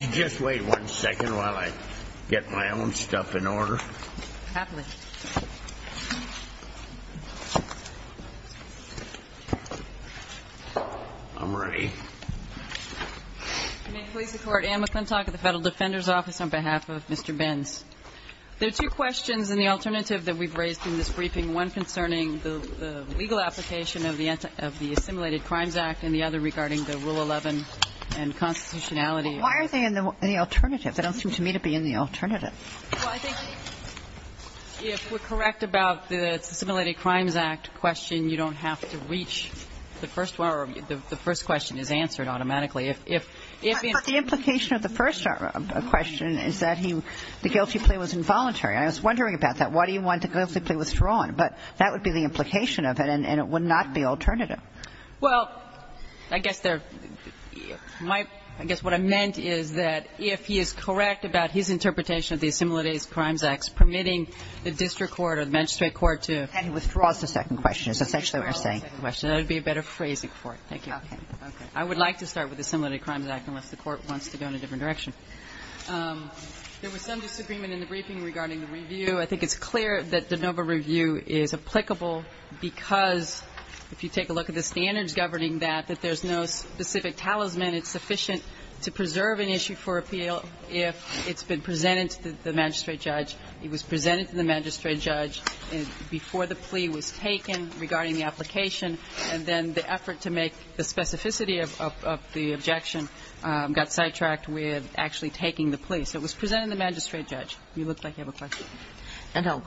You just wait one second while I get my own stuff in order. Happily. I'm ready. I'm in police support, Anne McClintock at the Federal Defender's Office on behalf of Mr. Benz. There are two questions in the alternative that we've raised in this briefing, one concerning the legal application of the Assimilated Crimes Act and the other regarding the Rule 11 and constitutionality. Why are they in the alternative? They don't seem to me to be in the alternative. Well, I think if we're correct about the Assimilated Crimes Act question, you don't have to reach the first one or the first question is answered automatically. But the implication of the first question is that the guilty plea was involuntary. I was wondering about that. Why do you want the guilty plea withdrawn? But that would be the implication of it and it would not be alternative. Well, I guess they're my – I guess what I meant is that if he is correct about his interpretation of the Assimilated Crimes Act, permitting the district court or the magistrate court to – And he withdraws the second question. He withdraws the second question. That would be a better phrasing for it. Thank you. Okay. Okay. I would like to start with the Assimilated Crimes Act unless the Court wants to go in a different direction. There was some disagreement in the briefing regarding the review. I think it's clear that de novo review is applicable because if you take a look at the standards governing that, that there's no specific talisman. It's sufficient to preserve an issue for appeal if it's been presented to the magistrate judge. It was presented to the magistrate judge before the plea was taken regarding the application. And then the effort to make the specificity of the objection got sidetracked with actually taking the plea. So it was presented to the magistrate judge. You look like you have a question. No.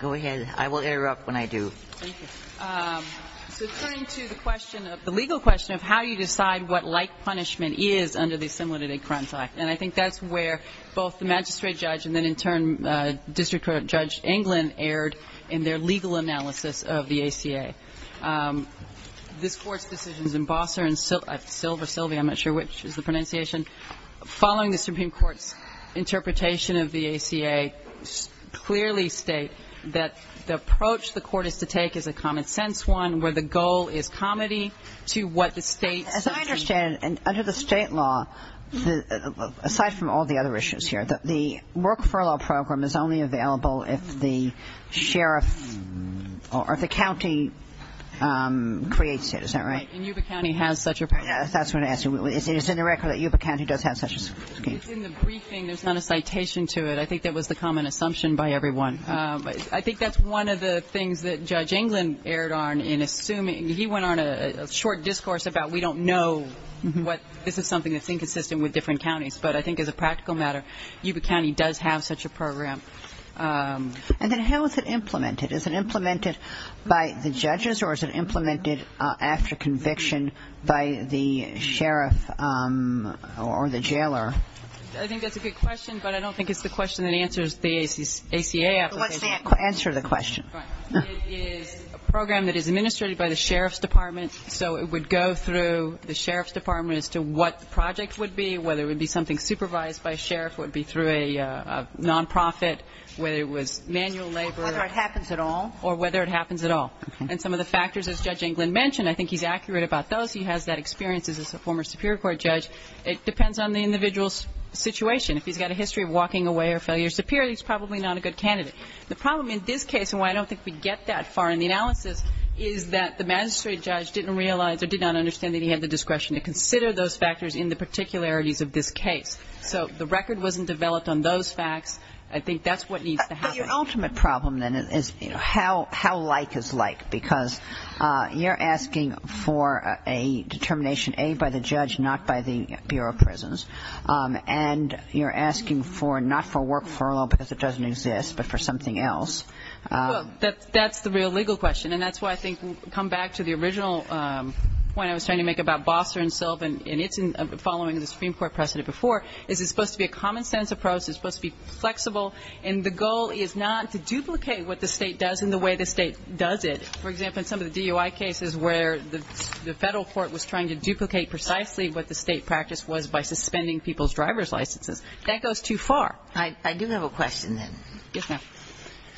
Go ahead. I will interrupt when I do. Thank you. So turning to the question of – the legal question of how you decide what like punishment is under the Assimilated Crimes Act. And I think that's where both the magistrate judge and then in turn District Court Judge Englund erred in their legal analysis of the ACA. This Court's decisions in Bosser and Silva – Silva, I'm not sure which is the pronunciation. Following the Supreme Court's interpretation of the ACA clearly state that the approach the Court is to take is a common-sense one where the goal is comity to what the State's – As I understand it, under the State law, aside from all the other issues here, the work furlough program is only available if the sheriff or if the county creates it. Is that right? Right. And Yuba County has such a program. That's what I'm asking. Is it in the record that Yuba County does have such a scheme? It's in the briefing. There's not a citation to it. I think that was the common assumption by everyone. I think that's one of the things that Judge Englund erred on in assuming – he went on a short discourse about we don't know what – this is something that's inconsistent with different counties. But I think as a practical matter, Yuba County does have such a program. And then how is it implemented? Is it implemented by the judges or is it implemented after conviction by the sheriff or the jailer? I think that's a good question, but I don't think it's the question that answers the ACA application. Answer the question. It is a program that is administrated by the sheriff's department, so it would go through the sheriff's department as to what the project would be, whether it would be something supervised by a sheriff, whether it would be through a nonprofit, whether it was manual labor. Whether it happens at all. Or whether it happens at all. Okay. And some of the factors, as Judge Englund mentioned, I think he's accurate about those. He has that experience as a former Superior Court judge. It depends on the individual's situation. If he's got a history of walking away or failure to appear, he's probably not a good candidate. The problem in this case, and why I don't think we get that far in the analysis, is that the magistrate judge didn't realize or did not understand that he had the discretion to consider those factors in the particularities of this case. So the record wasn't developed on those facts. I think that's what needs to happen. Well, your ultimate problem, then, is how like is like? Because you're asking for a determination, A, by the judge, not by the Bureau of Prisons. And you're asking for, not for work furlough because it doesn't exist, but for something else. Well, that's the real legal question. And that's why I think we'll come back to the original point I was trying to make about Bosser and Silva, and it's following the Supreme Court precedent before. Is it supposed to be a common-sense approach? Is it supposed to be flexible? And the goal is not to duplicate what the State does and the way the State does it. For example, in some of the DUI cases where the Federal court was trying to duplicate precisely what the State practice was by suspending people's driver's licenses. That goes too far. I do have a question, then. Yes, ma'am.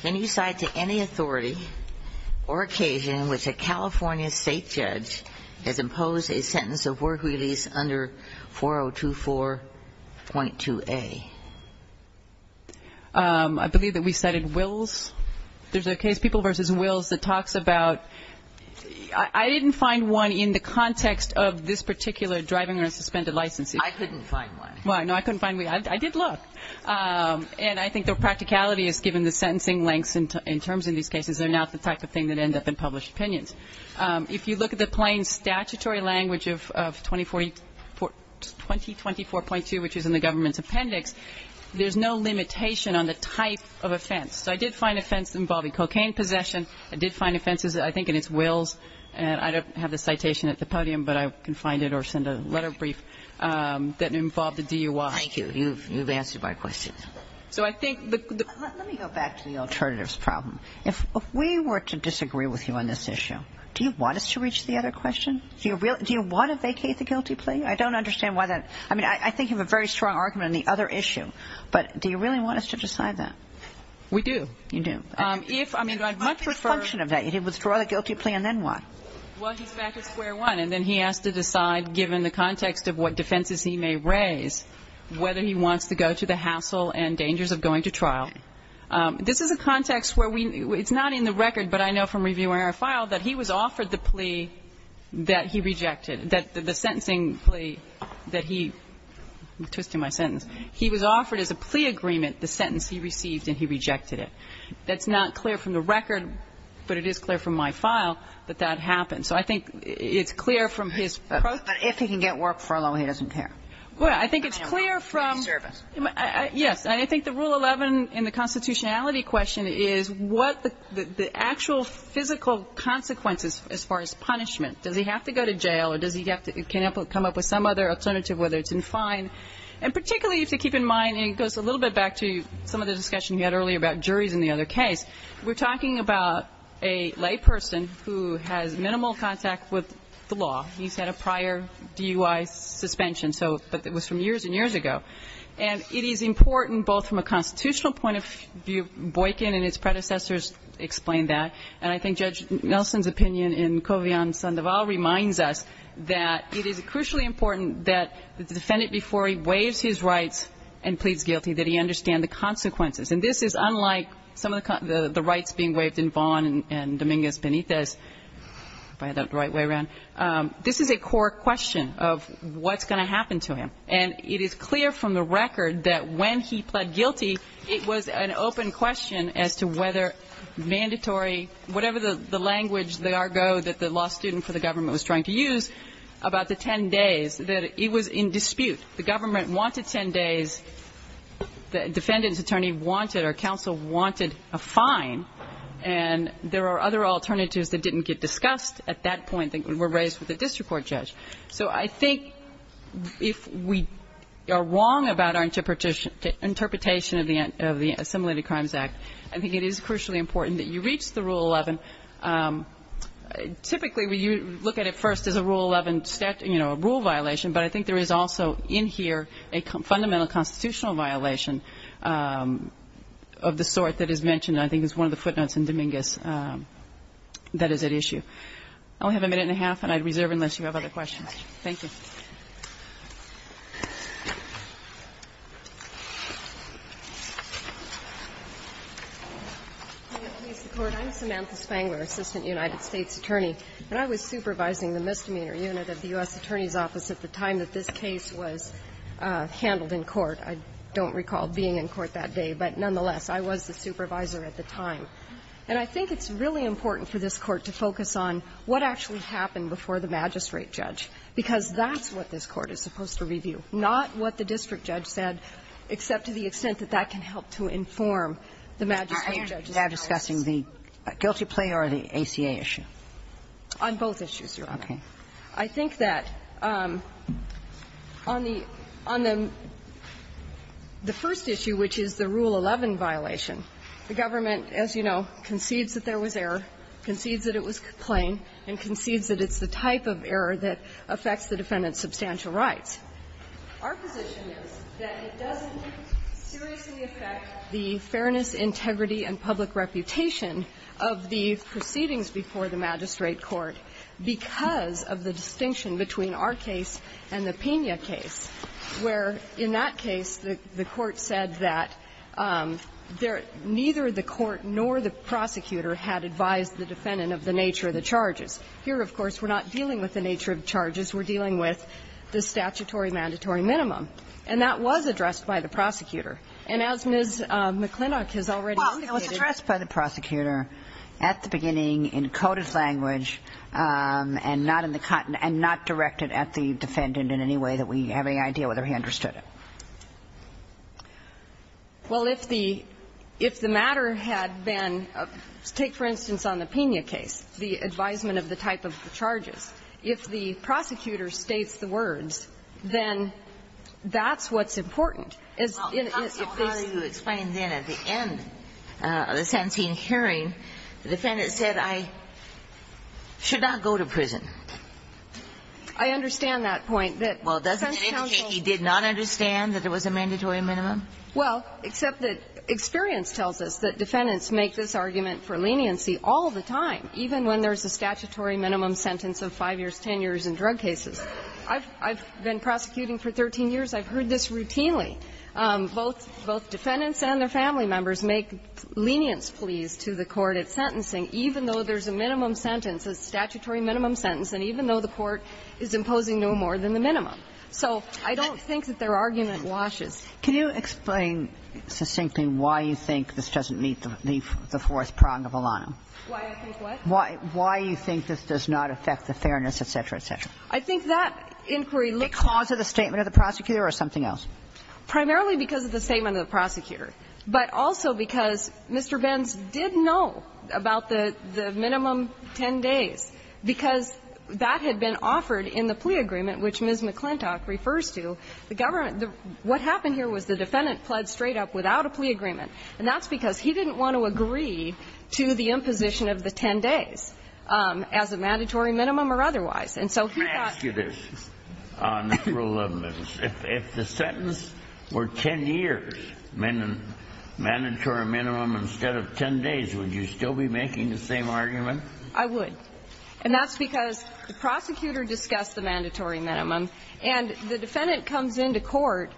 Can you cite to any authority or occasion in which a California State judge has imposed a sentence of work release under 4024.2A? I believe that we cited Wills. There's a case, People v. Wills, that talks about ‑‑ I didn't find one in the context of this particular driving or suspended license. I couldn't find one. Well, no, I couldn't find one. I did look. And I think the practicality is, given the sentencing lengths and terms in these cases, they're not the type of thing that end up in published opinions. If you look at the plain statutory language of 2044.2, which is in the government's appendix, there's no limitation on the type of offense. So I did find offense involving cocaine possession. I did find offenses, I think, in its Wills. And I don't have the citation at the podium, but I can find it or send a letter brief that involved the DUI. Thank you. You've answered my question. So I think the ‑‑ Let me go back to the alternatives problem. If we were to disagree with you on this issue, do you want us to reach the other question? Do you want to vacate the guilty plea? I don't understand why that ‑‑ I mean, I think you have a very strong argument on the other issue. But do you really want us to decide that? We do. You do. If, I mean, I'd much prefer ‑‑ What's the function of that? You withdraw the guilty plea and then what? Well, he's back at square one. And then he has to decide, given the context of what defenses he may raise, whether he wants to go to the hassle and dangers of going to trial. This is a context where we ‑‑ it's not in the record, but I know from reviewing our file, that he was offered the plea that he rejected, that the sentencing plea that he ‑‑ I'm twisting my sentence. He was offered as a plea agreement the sentence he received and he rejected it. That's not clear from the record, but it is clear from my file that that happened. So I think it's clear from his ‑‑ But if he can get work for a loan, he doesn't care. Well, I think it's clear from ‑‑ He deserves it. Yes. And I think the Rule 11 in the constitutionality question is what the actual physical consequences as far as punishment. Does he have to go to jail or does he have to come up with some other alternative, whether it's in fine? And particularly if you keep in mind, and it goes a little bit back to some of the discussion we had earlier about juries in the other case, we're talking about a lay person who has minimal contact with the law. He's had a prior DUI suspension. So it was from years and years ago. And it is important both from a constitutional point of view. Boykin and his predecessors explained that. And I think Judge Nelson's opinion in Covian-Sandoval reminds us that it is crucially important that the defendant before he waives his rights and pleads guilty, that he understand the consequences. And this is unlike some of the rights being waived in Vaughn and Dominguez-Benitez, if I had that the right way around. This is a core question of what's going to happen to him. And it is clear from the record that when he pled guilty, it was an open question as to whether mandatory, whatever the language, the argo that the law student for the government was trying to use about the 10 days, that it was in dispute. The government wanted 10 days. The defendant's attorney wanted or counsel wanted a fine. And there are other alternatives that didn't get discussed at that point that were raised with the district court judge. So I think if we are wrong about our interpretation of the Assimilated Crimes Act, I think it is crucially important that you reach the Rule 11. Typically, you look at it first as a Rule 11, you know, a rule violation, but I think there is also in here a fundamental constitutional violation of the sort that is mentioned and I think is one of the footnotes in Dominguez that is at issue. I only have a minute and a half, and I'd reserve unless you have other questions. Thank you. Ms. Spangler. I'm Samantha Spangler, Assistant United States Attorney. And I was supervising the misdemeanor unit of the U.S. Attorney's Office at the time that this case was handled in court. I don't recall being in court that day, but nonetheless, I was the supervisor at the time. And I think it's really important for this Court to focus on what actually happened before the magistrate judge, because that's what this Court is supposed to review, not what the district judge said, except to the extent that that can help to inform the magistrate judge's process. Are you now discussing the guilty plea or the ACA issue? On both issues, Your Honor. Okay. I think that on the first issue, which is the Rule 11 violation, the government, as you know, concedes that there was error, concedes that it was plain, and concedes that it's the type of error that affects the defendant's substantial rights. Our position is that it doesn't seriously affect the fairness, integrity, and public reputation of the proceedings before the magistrate court because of the distinction between our case and the Pena case, where, in that case, the Court said that neither the court nor the prosecutor had advised the defendant of the nature of the charges. Here, of course, we're not dealing with the nature of charges. We're dealing with the statutory mandatory minimum. And that was addressed by the prosecutor. And as Ms. McClintock has already indicated. Well, it was addressed by the prosecutor at the beginning in coded language and not in the content and not directed at the defendant in any way that we have any idea whether he understood it. Well, if the matter had been to take, for instance, on the Pena case, the advisement of the type of the charges, if the prosecutor states the words, then that's what's important. As in, if this was explained then at the end of the Santeen hearing, the defendant said, I should not go to prison. I understand that point, that the defense counsel did not understand. I understand that it was a mandatory minimum. Well, except that experience tells us that defendants make this argument for leniency all the time, even when there's a statutory minimum sentence of 5 years, 10 years in drug cases. I've been prosecuting for 13 years. I've heard this routinely. Both defendants and their family members make lenience pleas to the court at sentencing even though there's a minimum sentence, a statutory minimum sentence, and even though the court is imposing no more than the minimum. So I don't think that their argument washes. Can you explain succinctly why you think this doesn't meet the fourth prong of Alano? Why I think what? Why you think this does not affect the fairness, et cetera, et cetera. I think that inquiry looks at the statement of the prosecutor or something else. Primarily because of the statement of the prosecutor, but also because Mr. Benz did know about the minimum 10 days, because that had been offered in the plea agreement, which Ms. McClintock refers to, the government the what happened here was the defendant pled straight up without a plea agreement, and that's because he didn't want to agree to the imposition of the 10 days as a mandatory minimum or otherwise. And so he thought. If the sentence were 10 years, mandatory minimum instead of 10 days, would you still be making the same argument? I would. And that's because the prosecutor discussed the mandatory minimum and the defendant comes into court.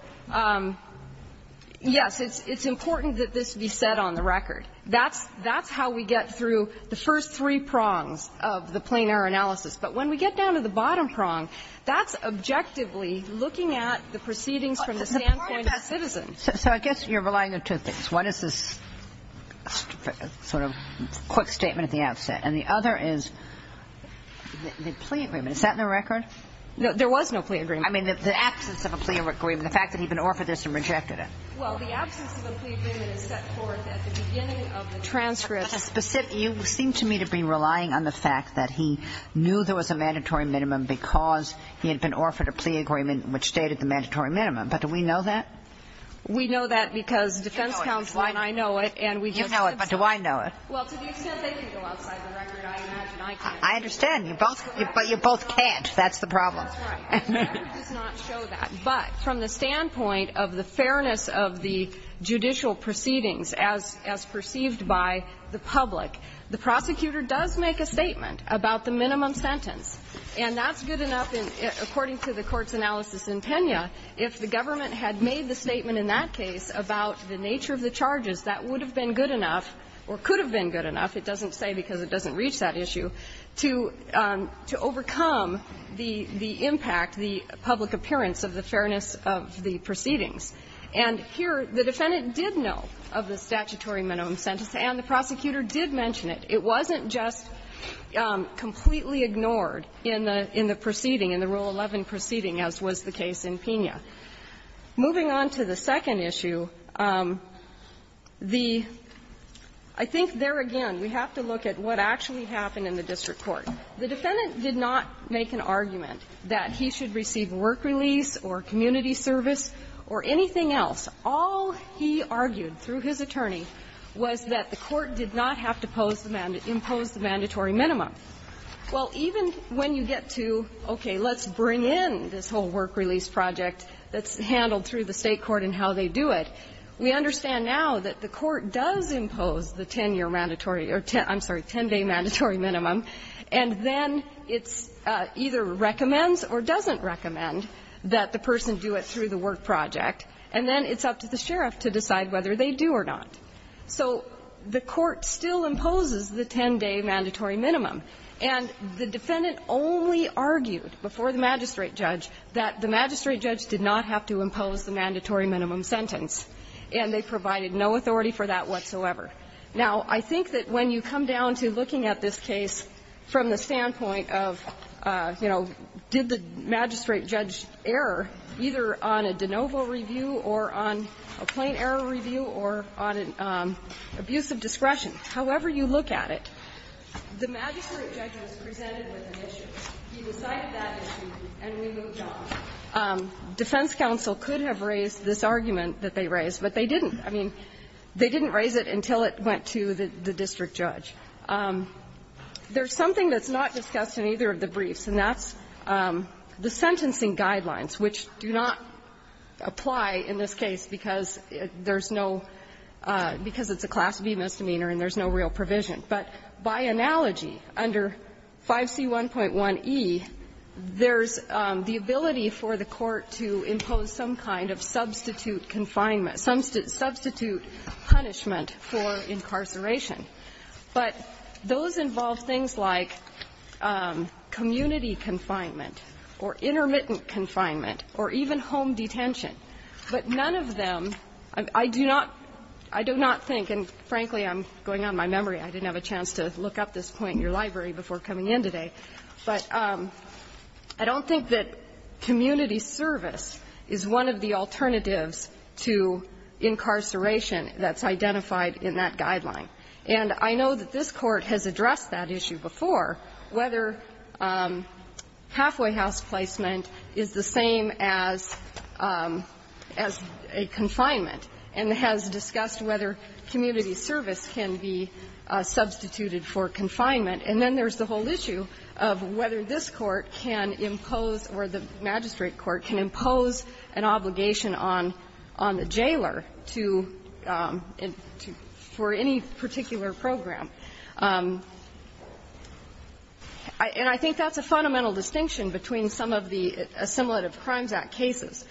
Yes, it's important that this be set on the record. That's how we get through the first three prongs of the plain error analysis. But when we get down to the bottom prong, that's objectively looking at the proceedings from the standpoint of citizens. So I guess you're relying on two things. One is this sort of quick statement at the outset. And the other is the plea agreement. Is that in the record? There was no plea agreement. I mean, the absence of a plea agreement, the fact that he had been offered this and rejected it. Well, the absence of a plea agreement is set forth at the beginning of the transcript. You seem to me to be relying on the fact that he knew there was a mandatory minimum because he had been offered a plea agreement which stated the mandatory minimum. But do we know that? We know that because defense counsel and I know it. You know it, but do I know it? Well, to the extent they can go outside the record, I imagine I can. I understand. But you both can't. That's the problem. That's right. The statute does not show that. But from the standpoint of the fairness of the judicial proceedings as perceived by the public, the prosecutor does make a statement about the minimum sentence. And that's good enough, according to the court's analysis in Pena, if the government had made the statement in that case about the nature of the charges, that would have been good enough, or could have been good enough, it doesn't say because it doesn't reach that issue, to overcome the impact, the public appearance of the fairness of the proceedings. And here the defendant did know of the statutory minimum sentence, and the prosecutor did mention it. It wasn't just completely ignored in the proceeding, in the Rule 11 proceeding, as was the case in Pena. Moving on to the second issue, the – I think there again we have to look at what actually happened in the district court. The defendant did not make an argument that he should receive work release or community service or anything else. All he argued through his attorney was that the court did not have to impose the mandatory minimum. Well, even when you get to, okay, let's bring in this whole work release project that's handled through the State court and how they do it, we understand now that the court does impose the 10-year mandatory or, I'm sorry, 10-day mandatory minimum, and then it's either recommends or doesn't recommend that the person do it through the work project, and then it's up to the sheriff to decide whether they do or not. So the court still imposes the 10-day mandatory minimum, and the defendant only argued before the magistrate judge that the magistrate judge did not have to impose the mandatory minimum sentence, and they provided no authority for that whatsoever. Now, I think that when you come down to looking at this case from the standpoint of, you know, did the magistrate judge err, either on a de novo review or on a plain error review or on an abuse of discretion, however you look at it, the magistrate judge was presented with an issue. He decided that issue, and we moved on. Defense counsel could have raised this argument that they raised, but they didn't. I mean, they didn't raise it until it went to the district judge. There's something that's not discussed in either of the briefs, and that's the sentencing guidelines, which do not apply in this case because there's no – because it's a class B misdemeanor and there's no real provision. But by analogy, under 5C1.1e, there's the ability for the court to impose some kind of substitute confinement, substitute punishment for incarceration. But those involve things like community confinement or intermittent confinement or even home detention. But none of them – I do not – I do not think, and frankly, I'm going on my memory. I didn't have a chance to look up this point in your library before coming in today. But I don't think that community service is one of the alternatives to incarceration that's identified in that guideline. And I know that this Court has addressed that issue before, whether halfway house placement is the same as a confinement and has discussed whether community service can be substituted for confinement. And then there's the whole issue of whether this Court can impose or the magistrate court can impose an obligation on the jailer to – for any particular program. And I think that's a fundamental distinction between some of the Assimilative Crimes Act cases.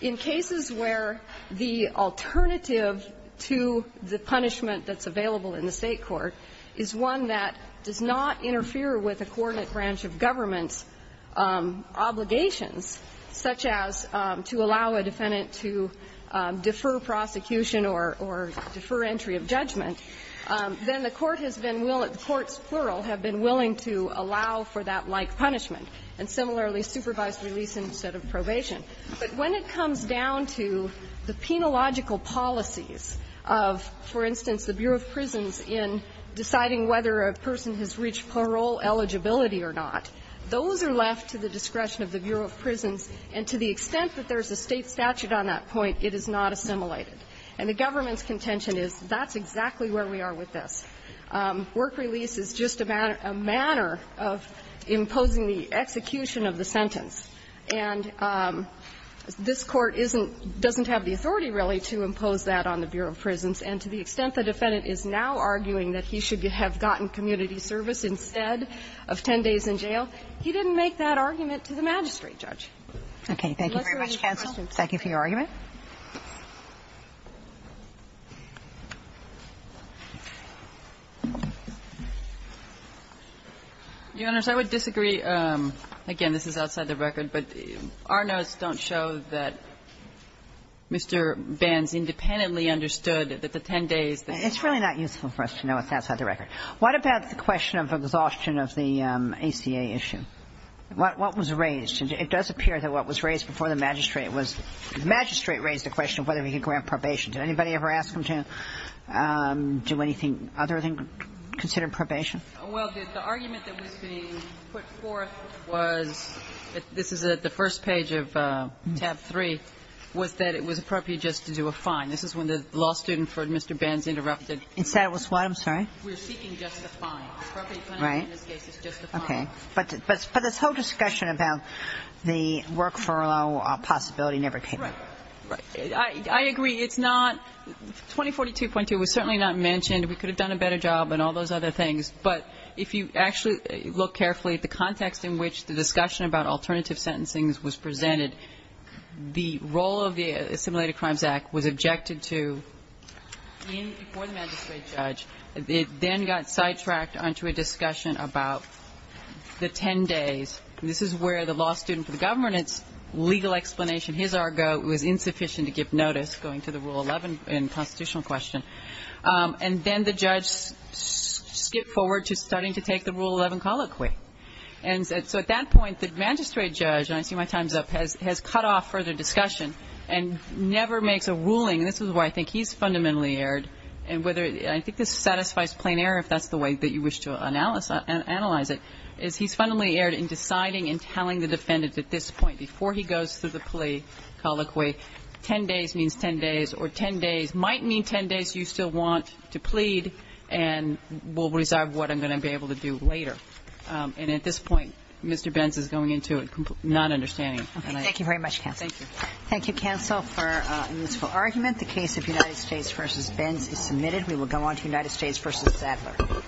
In cases where the alternative to the punishment that's available in the State court is one that does not interfere with a coordinate branch of government's obligations, such as to allow a defendant to defer prosecution or defer entry of judgment, then the court has been – the courts, plural, have been willing to allow for that like punishment. And similarly, supervised release instead of probation. But when it comes down to the penological policies of, for instance, the Bureau of Prisons in deciding whether a person has reached parole eligibility or not, those are left to the discretion of the Bureau of Prisons. And to the extent that there's a State statute on that point, it is not assimilated. And the government's contention is that's exactly where we are with this. Work release is just a manner of imposing the execution of the sentence. And this Court isn't – doesn't have the authority, really, to impose that on the Bureau of Prisons. And to the extent the defendant is now arguing that he should have gotten community service instead of 10 days in jail, he didn't make that argument to the magistrate, Judge. Okay. Thank you very much, counsel. Thank you for your argument. Your Honors, I would disagree. Again, this is outside the record. But our notes don't show that Mr. Banz independently understood that the 10 days that he had. It's really not useful for us to know what's outside the record. What about the question of exhaustion of the ACA issue? What was raised? It does appear that what was raised before the magistrate was – the magistrate raised the question of whether he could grant probation. Did anybody ever ask him to do anything other than consider probation? Well, the argument that was being put forth was – this is the first page of tab 3 – was that it was appropriate just to do a fine. This is when the law student for Mr. Banz interrupted. Is that what's what? We're seeking just a fine. Appropriate penalty in this case is just a fine. Okay. But this whole discussion about the work furlough possibility never came up. Right. I agree. It's not – 2042.2 was certainly not mentioned. We could have done a better job and all those other things. But if you actually look carefully at the context in which the discussion about alternative sentencing was presented, the role of the Assimilated Crimes Act was that the magistrate judge was subject to – before the magistrate judge, it then got sidetracked onto a discussion about the 10 days. This is where the law student for the government's legal explanation, his argo, was insufficient to give notice going to the Rule 11 in the constitutional question. And then the judge skipped forward to starting to take the Rule 11 colloquy. And so at that point, the magistrate judge, and I see my time's up, has cut off further discussion and never makes a ruling. And this is where I think he's fundamentally erred. And whether – I think this satisfies plain error, if that's the way that you wish to analyze it, is he's fundamentally erred in deciding and telling the defendant at this point, before he goes through the plea colloquy, 10 days means 10 days or 10 days might mean 10 days you still want to plead and we'll reserve what I'm able to do later. And at this point, Mr. Benz is going into a non-understanding. Thank you very much, counsel. Thank you. Thank you, counsel, for a useful argument. The case of United States v. Benz is submitted. We will go on to United States v. Sadler.